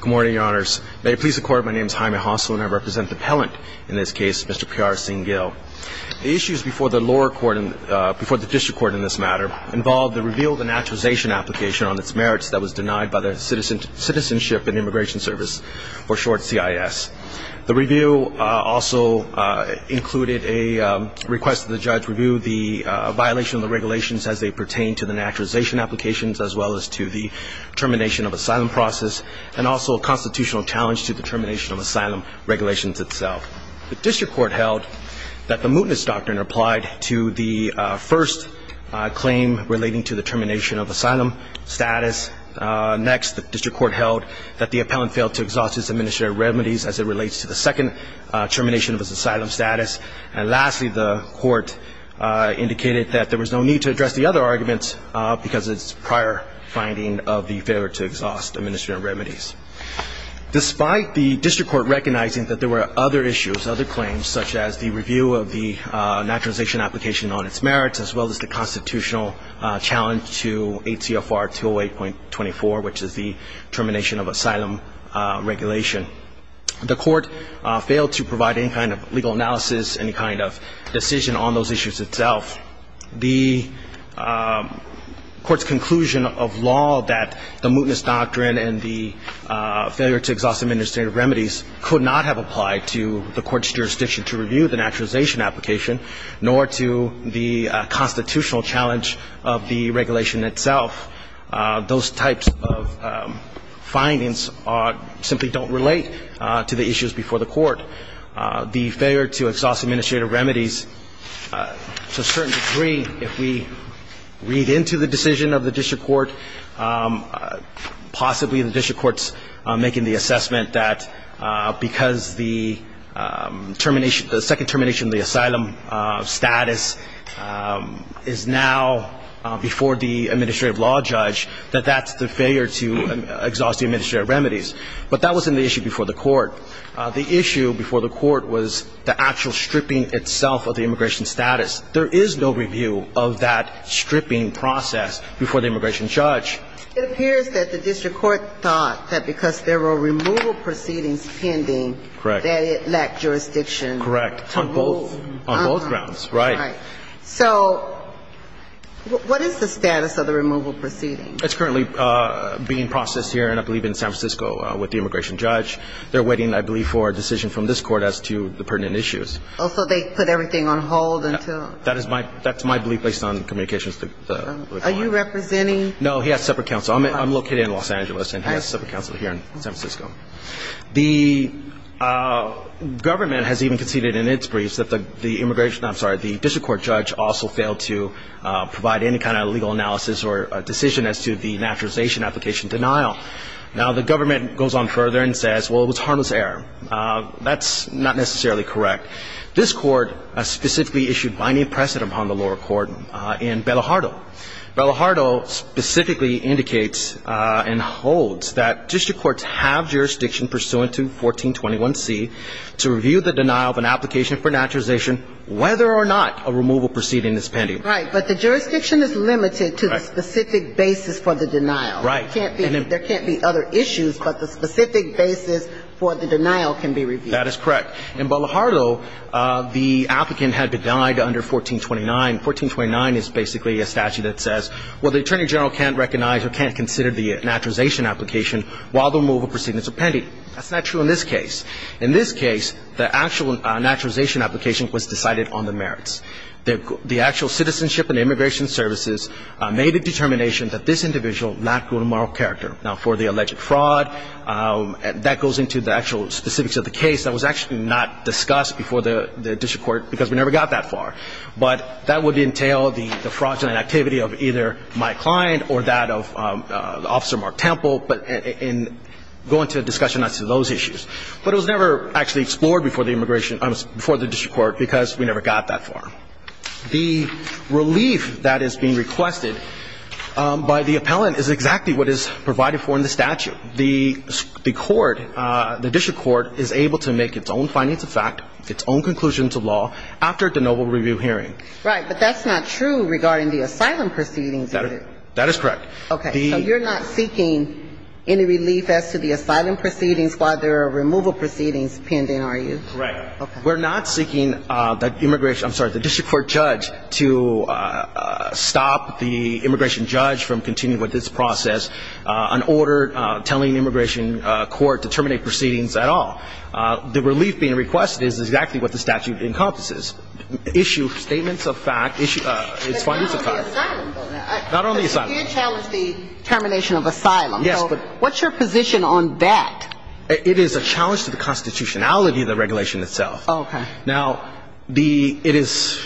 Good morning, your honors. May it please the court, my name is Jaime Hossel and I represent the appellant in this case, Mr. Piara Singh Gill. The issues before the lower court, before the district court in this matter, involved the reveal of the naturalization application on its merits that was denied by the Citizenship and Immigration Service, or short CIS. The review also included a request that the judge review the violation of the regulations as they pertain to the naturalization applications as well as to the termination of asylum process, and also a constitutional challenge to the termination of asylum regulations itself. The district court held that the mootness doctrine applied to the first claim relating to the termination of asylum status. Next, the district court held that the appellant failed to exhaust his administrative remedies as it relates to the second termination of his asylum status. And lastly, the court indicated that there was no need to address the other arguments because it's prior finding of the failure to exhaust administrative remedies. Despite the district court recognizing that there were other issues, other claims, such as the review of the naturalization application on its merits as well as the constitutional challenge to ATFR 208.24, which is the termination of asylum regulation, the court failed to provide any kind of legal analysis, any kind of decision on those issues itself. The court's conclusion of law that the mootness doctrine and the failure to exhaust administrative remedies could not have applied to the court's jurisdiction to review the naturalization application, nor to the constitutional challenge of the regulation itself. Those types of findings simply don't relate to the issues before the court. The failure to exhaust administrative remedies, to a certain degree, if we read into the decision of the district court, possibly the district court's making the assessment that because the termination, the second termination of the asylum status is now before the administrative law judge, that that's the failure to exhaust the administrative remedies. But that wasn't the issue before the court. The issue before the court was the actual stripping itself of the immigration status. There is no review of that stripping process before the immigration judge. It appears that the district court thought that because there were removal proceedings pending that it lacked jurisdiction. Correct, on both grounds, right. So what is the status of the removal proceedings? It's currently being processed here, and I believe in San Francisco, with the immigration judge. They're waiting, I believe, for a decision from this court as to the pertinent issues. Oh, so they put everything on hold until? That's my belief based on communications with the court. Are you representing? No, he has separate counsel. I'm located in Los Angeles, and he has separate counsel here in San Francisco. The government has even conceded in its briefs that the immigration, I'm sorry, the district court judge also failed to provide any kind of legal analysis or a decision as to the naturalization application denial. Now, the government goes on further and says, well, it was harmless error. That's not necessarily correct. This court specifically issued by name precedent upon the lower court in Bellahardo. Bellahardo specifically indicates and holds that district courts have jurisdiction pursuant to 1421C to review the denial of an application for naturalization, whether or not a removal proceeding is pending. Right, but the jurisdiction is limited to the specific basis for the denial. Right. There can't be other issues, but the specific basis for the denial can be reviewed. That is correct. In Bellahardo, the applicant had been denied under 1429. 1429 is basically a statute that says, well, the attorney general can't recognize or can't consider the naturalization application while the removal proceedings are pending. That's not true in this case. In this case, the actual naturalization application was decided on the merits. The actual citizenship and immigration services made a determination that this individual lacked good moral character. Now, for the alleged fraud, that goes into the actual specifics of the case. That was actually not discussed before the district court because we never got that far. But that would entail the fraudulent activity of either my client or that of Officer Mark Temple in going to a discussion on those issues. But it was never actually explored before the immigration or before the district court because we never got that far. The relief that is being requested by the appellant is exactly what is provided for in the statute. The court, the district court, is able to make its own findings of fact, its own conclusions of law, after the noble review hearing. Right. But that's not true regarding the asylum proceedings. That is correct. Okay. So you're not seeking any relief as to the asylum proceedings while there are removal proceedings pending, are you? Correct. Okay. We're not seeking the immigration ‑‑ I'm sorry, the district court judge to stop the immigration judge from continuing with this process on order telling the immigration court to terminate proceedings at all. The relief being requested is exactly what the statute encompasses. Issue statements of fact, its findings of fact. But not on the asylum though. Not on the asylum. You did challenge the termination of asylum. Yes. What's your position on that? It is a challenge to the constitutionality of the regulation itself. Okay. Now, it is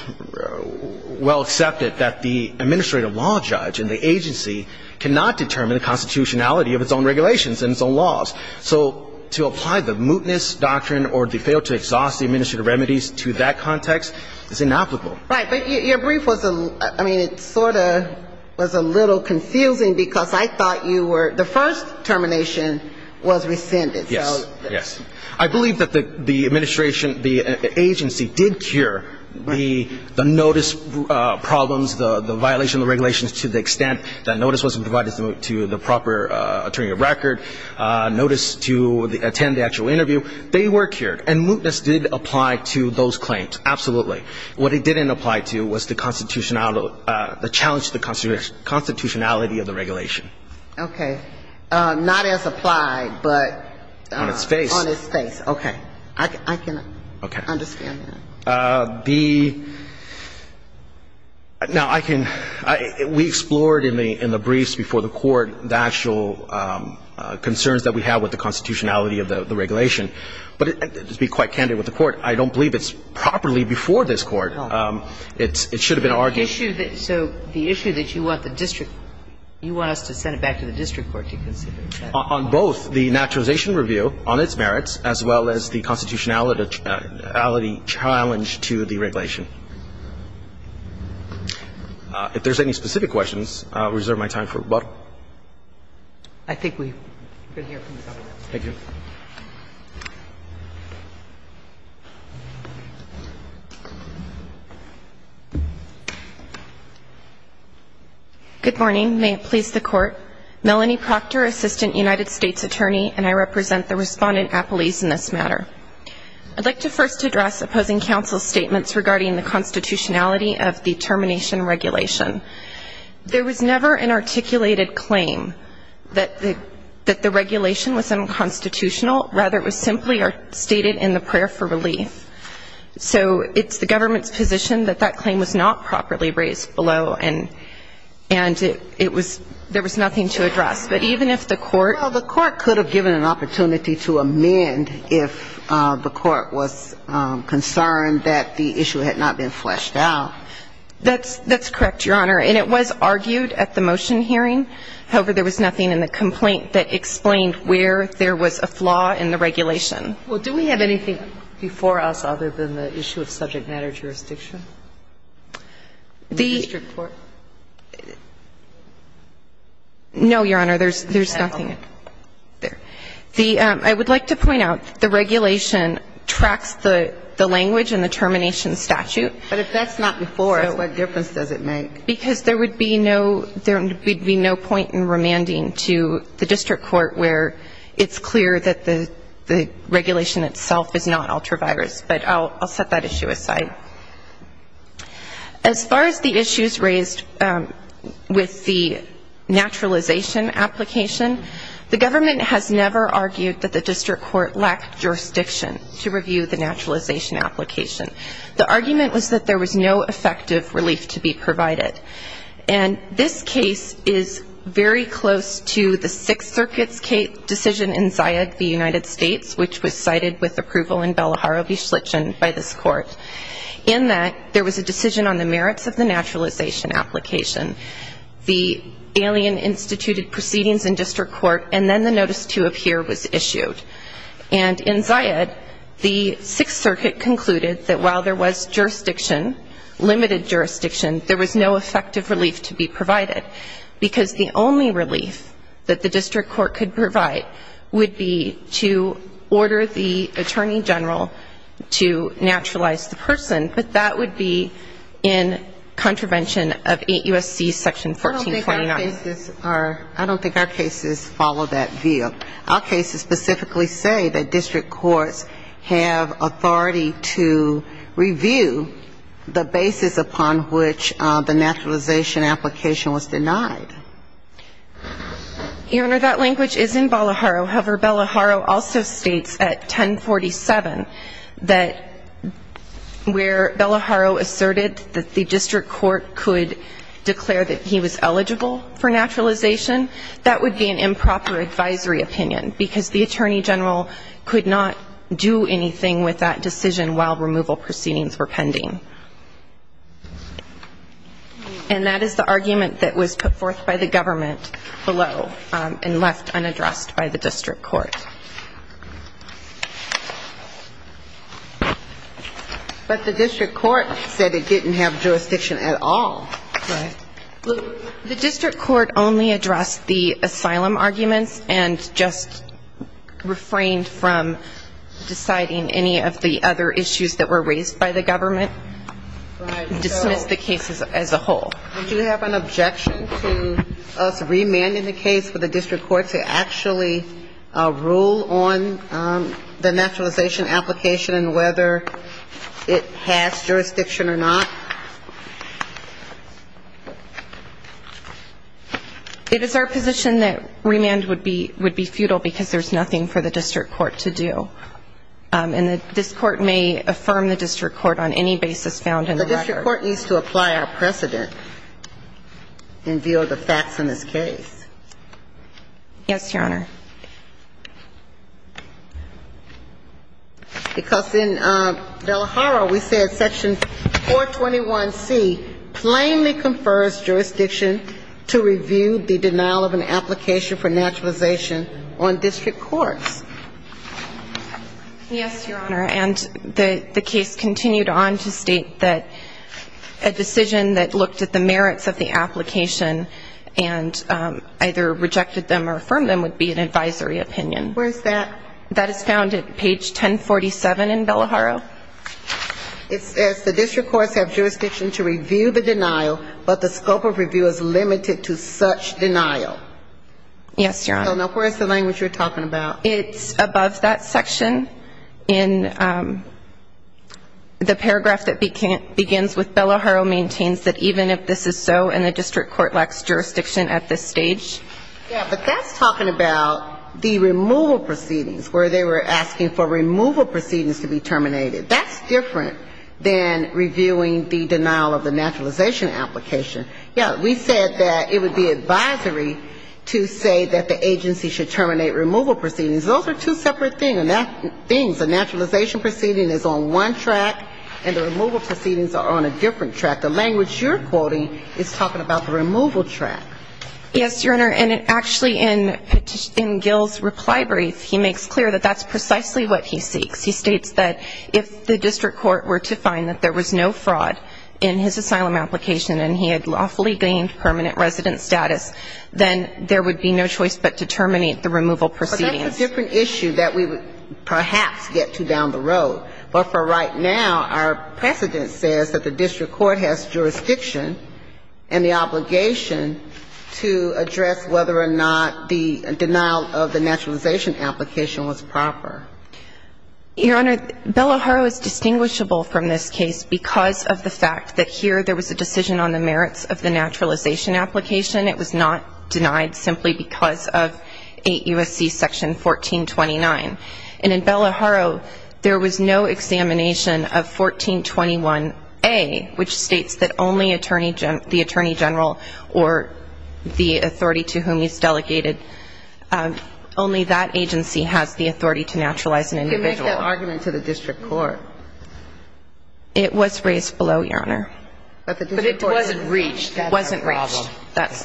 well accepted that the administrative law judge and the agency cannot determine the constitutionality of its own regulations and its own laws. So to apply the mootness doctrine or to fail to exhaust the administrative remedies to that context is inapplicable. Right. But your brief was a ‑‑ I mean, it sort of was a little confusing because I thought you were ‑‑ the first termination was rescinded. Yes. Yes. I believe that the administration, the agency did cure the notice problems, the violation of the regulations to the extent that notice wasn't provided to the proper attorney of record, notice to attend the actual interview. They were cured. And mootness did apply to those claims. Absolutely. What it didn't apply to was the constitutional ‑‑ the challenge to the constitutionality of the regulation. Okay. Not as applied, but ‑‑ On its face. On its face. Okay. I can understand that. The ‑‑ now, I can ‑‑ we explored in the briefs before the Court the actual concerns that we have with the constitutionality of the regulation. But to be quite candid with the Court, I don't believe it's properly before this Court. It should have been argued. The issue that ‑‑ so the issue that you want the district ‑‑ you want us to send it back to the district court to consider. On both the naturalization review, on its merits, as well as the constitutionality challenge to the regulation. If there's any specific questions, I'll reserve my time for rebuttal. I think we can hear from the public. Thank you. Good morning. May it please the Court. Melanie Proctor, Assistant United States Attorney, and I represent the respondent appellees in this matter. I'd like to first address opposing counsel's statements regarding the constitutionality of the termination regulation. There was never an articulated claim that the regulation was unconstitutional. Rather, it was simply stated in the prayer for relief. So it's the government's position that that claim was not properly raised below. And it was ‑‑ there was nothing to address. But even if the Court ‑‑ Well, the Court could have given an opportunity to amend if the Court was concerned that the issue had not been fleshed out. That's correct, Your Honor. And it was argued at the motion hearing. However, there was nothing in the complaint that explained where there was a flaw in the regulation. Well, do we have anything before us other than the issue of subject matter jurisdiction? The district court? No, Your Honor. There's nothing there. I would like to point out the regulation tracks the language in the termination statute. But if that's not before us, what difference does it make? Because there would be no ‑‑ there would be no point in remanding to the district court where it's clear that the regulation itself is not ultravirus. But I'll set that issue aside. As far as the issues raised with the naturalization application, the government has never argued that the district court lacked jurisdiction to review the naturalization application. The argument was that there was no effective relief to be provided. And this case is very close to the Sixth Circuit's decision in Zayed, the United States, which was cited with approval in Bellaharra v. Schlitgen by this court, in that there was a decision on the merits of the naturalization application. The alien instituted proceedings in district court, and then the notice to appear was issued. And in Zayed, the Sixth Circuit concluded that while there was jurisdiction, limited jurisdiction, there was no effective relief to be provided, because the only relief that the district court could provide would be to order the attorney general to naturalize the person, but that would be in contravention of 8 U.S.C. Section 1449. I don't think our cases are ‑‑ I don't think our cases follow that view. Our cases specifically say that district courts have authority to review the basis upon which the naturalization application was denied. Your Honor, that language is in Bellaharra. However, Bellaharra also states at 1047 that where Bellaharra asserted that the district court could declare that he was eligible for naturalization, that would be an improper advisory opinion, because the attorney general could not do anything with that decision while removal proceedings were pending. And that is the argument that was put forth by the government below and left unaddressed by the district court. But the district court said it didn't have jurisdiction at all. The district court only addressed the asylum arguments and just refrained from deciding any of the other issues that were raised by the government, dismissed the case as a whole. Do you have an objection to us remanding the case for the district court to actually rule on the naturalization application and whether it has jurisdiction or not? It is our position that remand would be futile because there's nothing for the district court to do. And this Court may affirm the district court on any basis found in the record. But the district court needs to apply our precedent in view of the facts in this case. Yes, Your Honor. Because in Bellaharra we said section 421C plainly confers jurisdiction to review the denial of an application for naturalization on district courts. Yes, Your Honor, and the case continued on to state that a decision that looked at the merits of the application and either rejected them or affirmed them would be an advisory opinion. Where is that? That is found at page 1047 in Bellaharra. It says the district courts have jurisdiction to review the denial, but the scope of review is limited to such denial. Yes, Your Honor. So now where is the language you're talking about? It's above that section in the paragraph that begins with Bellaharra maintains that even if this is so and the district court lacks jurisdiction to review the denial of the naturalization application, the agency should terminate the removal proceedings. That's different than reviewing the denial of the naturalization application. Yes, we said that it would be advisory to say that the agency should terminate removal proceedings. Those are two separate things. A naturalization proceeding is on one track and the removal proceedings are on a different track. The language you're quoting is talking about the removal track. Yes, Your Honor, and actually in Gil's reply brief he makes clear that that's precisely what he seeks. He states that if the district court were to find that there was no fraud in his asylum application and he had lawfully gained permanent resident status, then there would be no choice but to terminate the removal proceedings. But that's a different issue that we would perhaps get to down the road. But for right now, our precedent says that the district court has jurisdiction and the obligation to address whether or not the denial of the naturalization application was proper. Your Honor, Bellaharra is distinguishable from this case because of the fact that here there was a decision on the merits of the naturalization application. It was not denied simply because of 8 U.S.C. section 1429. And in Bellaharra, there was no examination of 1421A, which states that only the attorney general or the authority to whom he's delegated, only that agency has the authority to naturalize an individual. You make that argument to the district court. But it wasn't reached. It wasn't reached. That's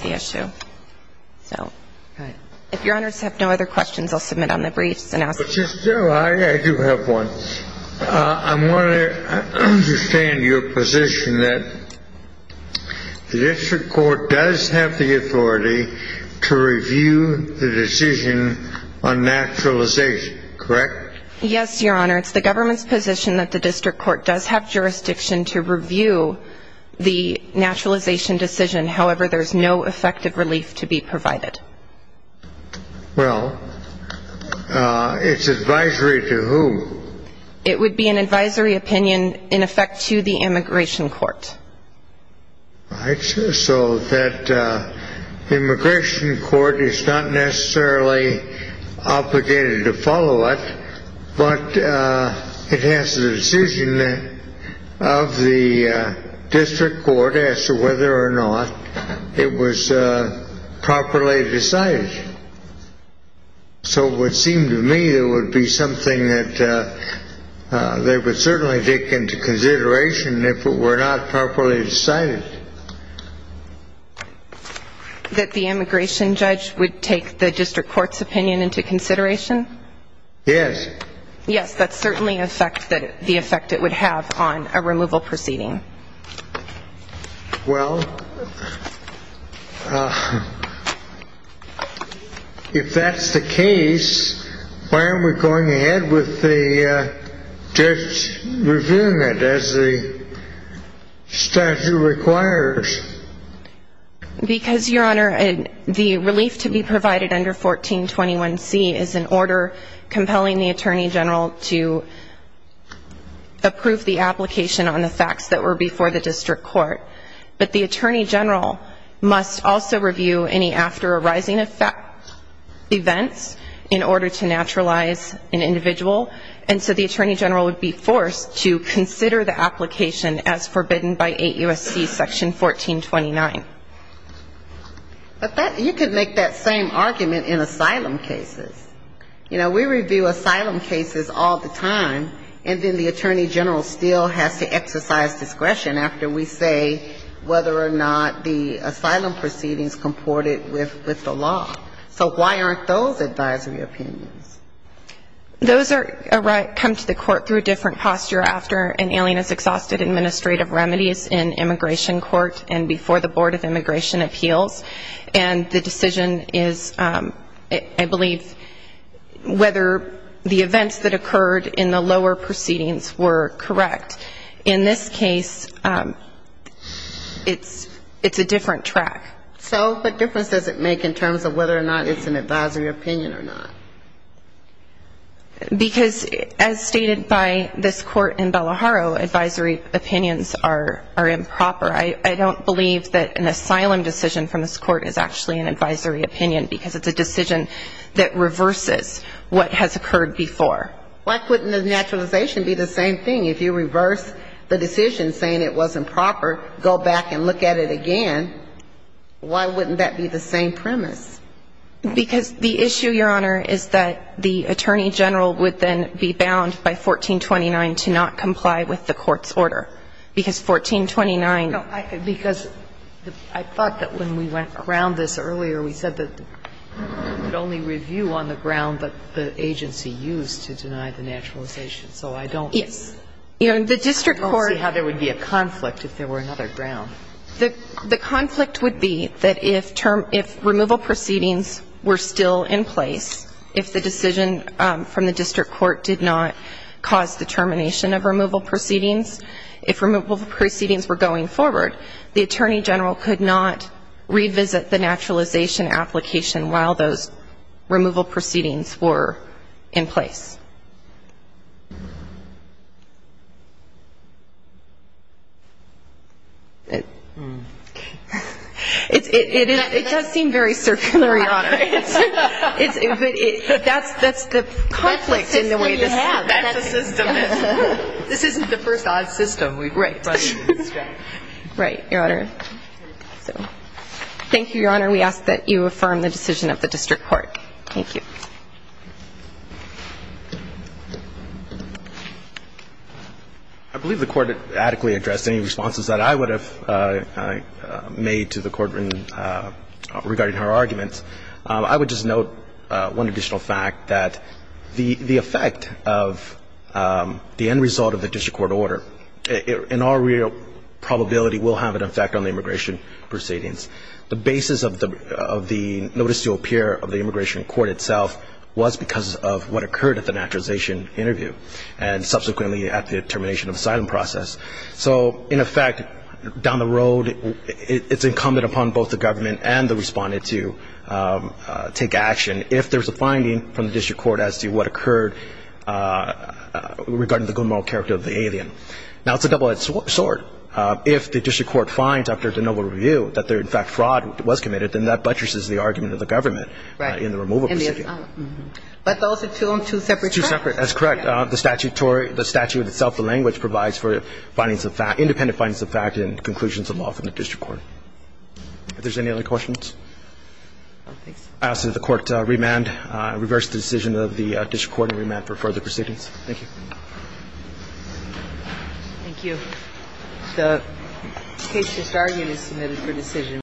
the issue. So if Your Honors have no other questions, I'll submit on the briefs and ask. I do have one. I want to understand your position that the district court does have the authority to review the decision on naturalization, correct? Yes, Your Honor. It's the government's position that the district court does have jurisdiction to review the naturalization decision. However, there's no effective relief to be provided. Well, it's advisory to whom? It would be an advisory opinion, in effect, to the immigration court. Right. So that immigration court is not necessarily obligated to follow it. But it has the decision of the district court as to whether or not it was properly decided. So it would seem to me it would be something that they would certainly take into consideration if it were not properly decided. That the immigration judge would take the district court's opinion into consideration? Yes. Yes, that's certainly the effect it would have on a removal proceeding. Well, if that's the case, why aren't we going ahead with the judge reviewing it as the statute requires? Because, Your Honor, the relief to be provided under 1421C is an order compelling the attorney general to approve the application on the facts that were before the district court. But the attorney general must also review any after-arising events in order to naturalize an individual. And so the attorney general would be forced to consider the application as forbidden by 8 U.S.C. Section 1429. But you could make that same argument in asylum cases. You know, we review asylum cases all the time, and then the attorney general still has to exercise discretion after we say whether or not the asylum proceedings comported with the law. So why aren't those advisory opinions? Those come to the court through a different posture after an alien has exhausted administrative remedies in immigration court and before the Board of Immigration Appeals, and the decision is, I believe, whether the events that occurred in the lower proceedings were correct. In this case, it's a different track. So what difference does it make in terms of whether or not it's an advisory opinion or not? Because, as stated by this court in Bellaharrow, advisory opinions are improper. I don't believe that an asylum decision from this court is actually an advisory opinion, because it's a decision that reverses what has occurred before. Why couldn't the naturalization be the same thing? If you reverse the decision saying it was improper, go back and look at it again. Why wouldn't that be the same premise? Because the issue, Your Honor, is that the attorney general would then be bound by 1429 to not comply with the court's order, because 1429 ---- No, because I thought that when we went around this earlier, we said that you could only review on the ground that the agency used to deny the naturalization. So I don't see how there would be a conflict if there were another ground. The conflict would be that if removal proceedings were still in place, if the decision from the district court did not cause the termination of removal proceedings, if removal proceedings were going forward, the attorney general could not revisit the naturalization application while those removal proceedings were in place. It does seem very circular, Your Honor. But that's the conflict in the way this ---- That's the system you have. That's the system. This isn't the first odd system we've run into. Right, Your Honor. Thank you, Your Honor. We ask that you affirm the decision of the district court. Thank you. I believe the Court adequately addressed any responses that I would have made to the Court regarding her arguments. I would just note one additional fact, that the effect of the end result of the district court order, in all real terms, probability will have an effect on the immigration proceedings. The basis of the notice to appear of the immigration court itself was because of what occurred at the naturalization interview, and subsequently at the termination of asylum process. So in effect, down the road, it's incumbent upon both the government and the respondent to take action if there's a finding from the district court as to what occurred regarding the good moral character of the alien. Now, it's a double-edged sword. If the district court finds, after the noble review, that in fact fraud was committed, then that buttresses the argument of the government in the removal procedure. But those are two separate cases. That's correct. The statute itself, the language, provides for independent findings of fact and conclusions of law from the district court. If there's any other questions, I ask that the Court remand, reverse the decision of the district court and remand for further proceedings. Thank you.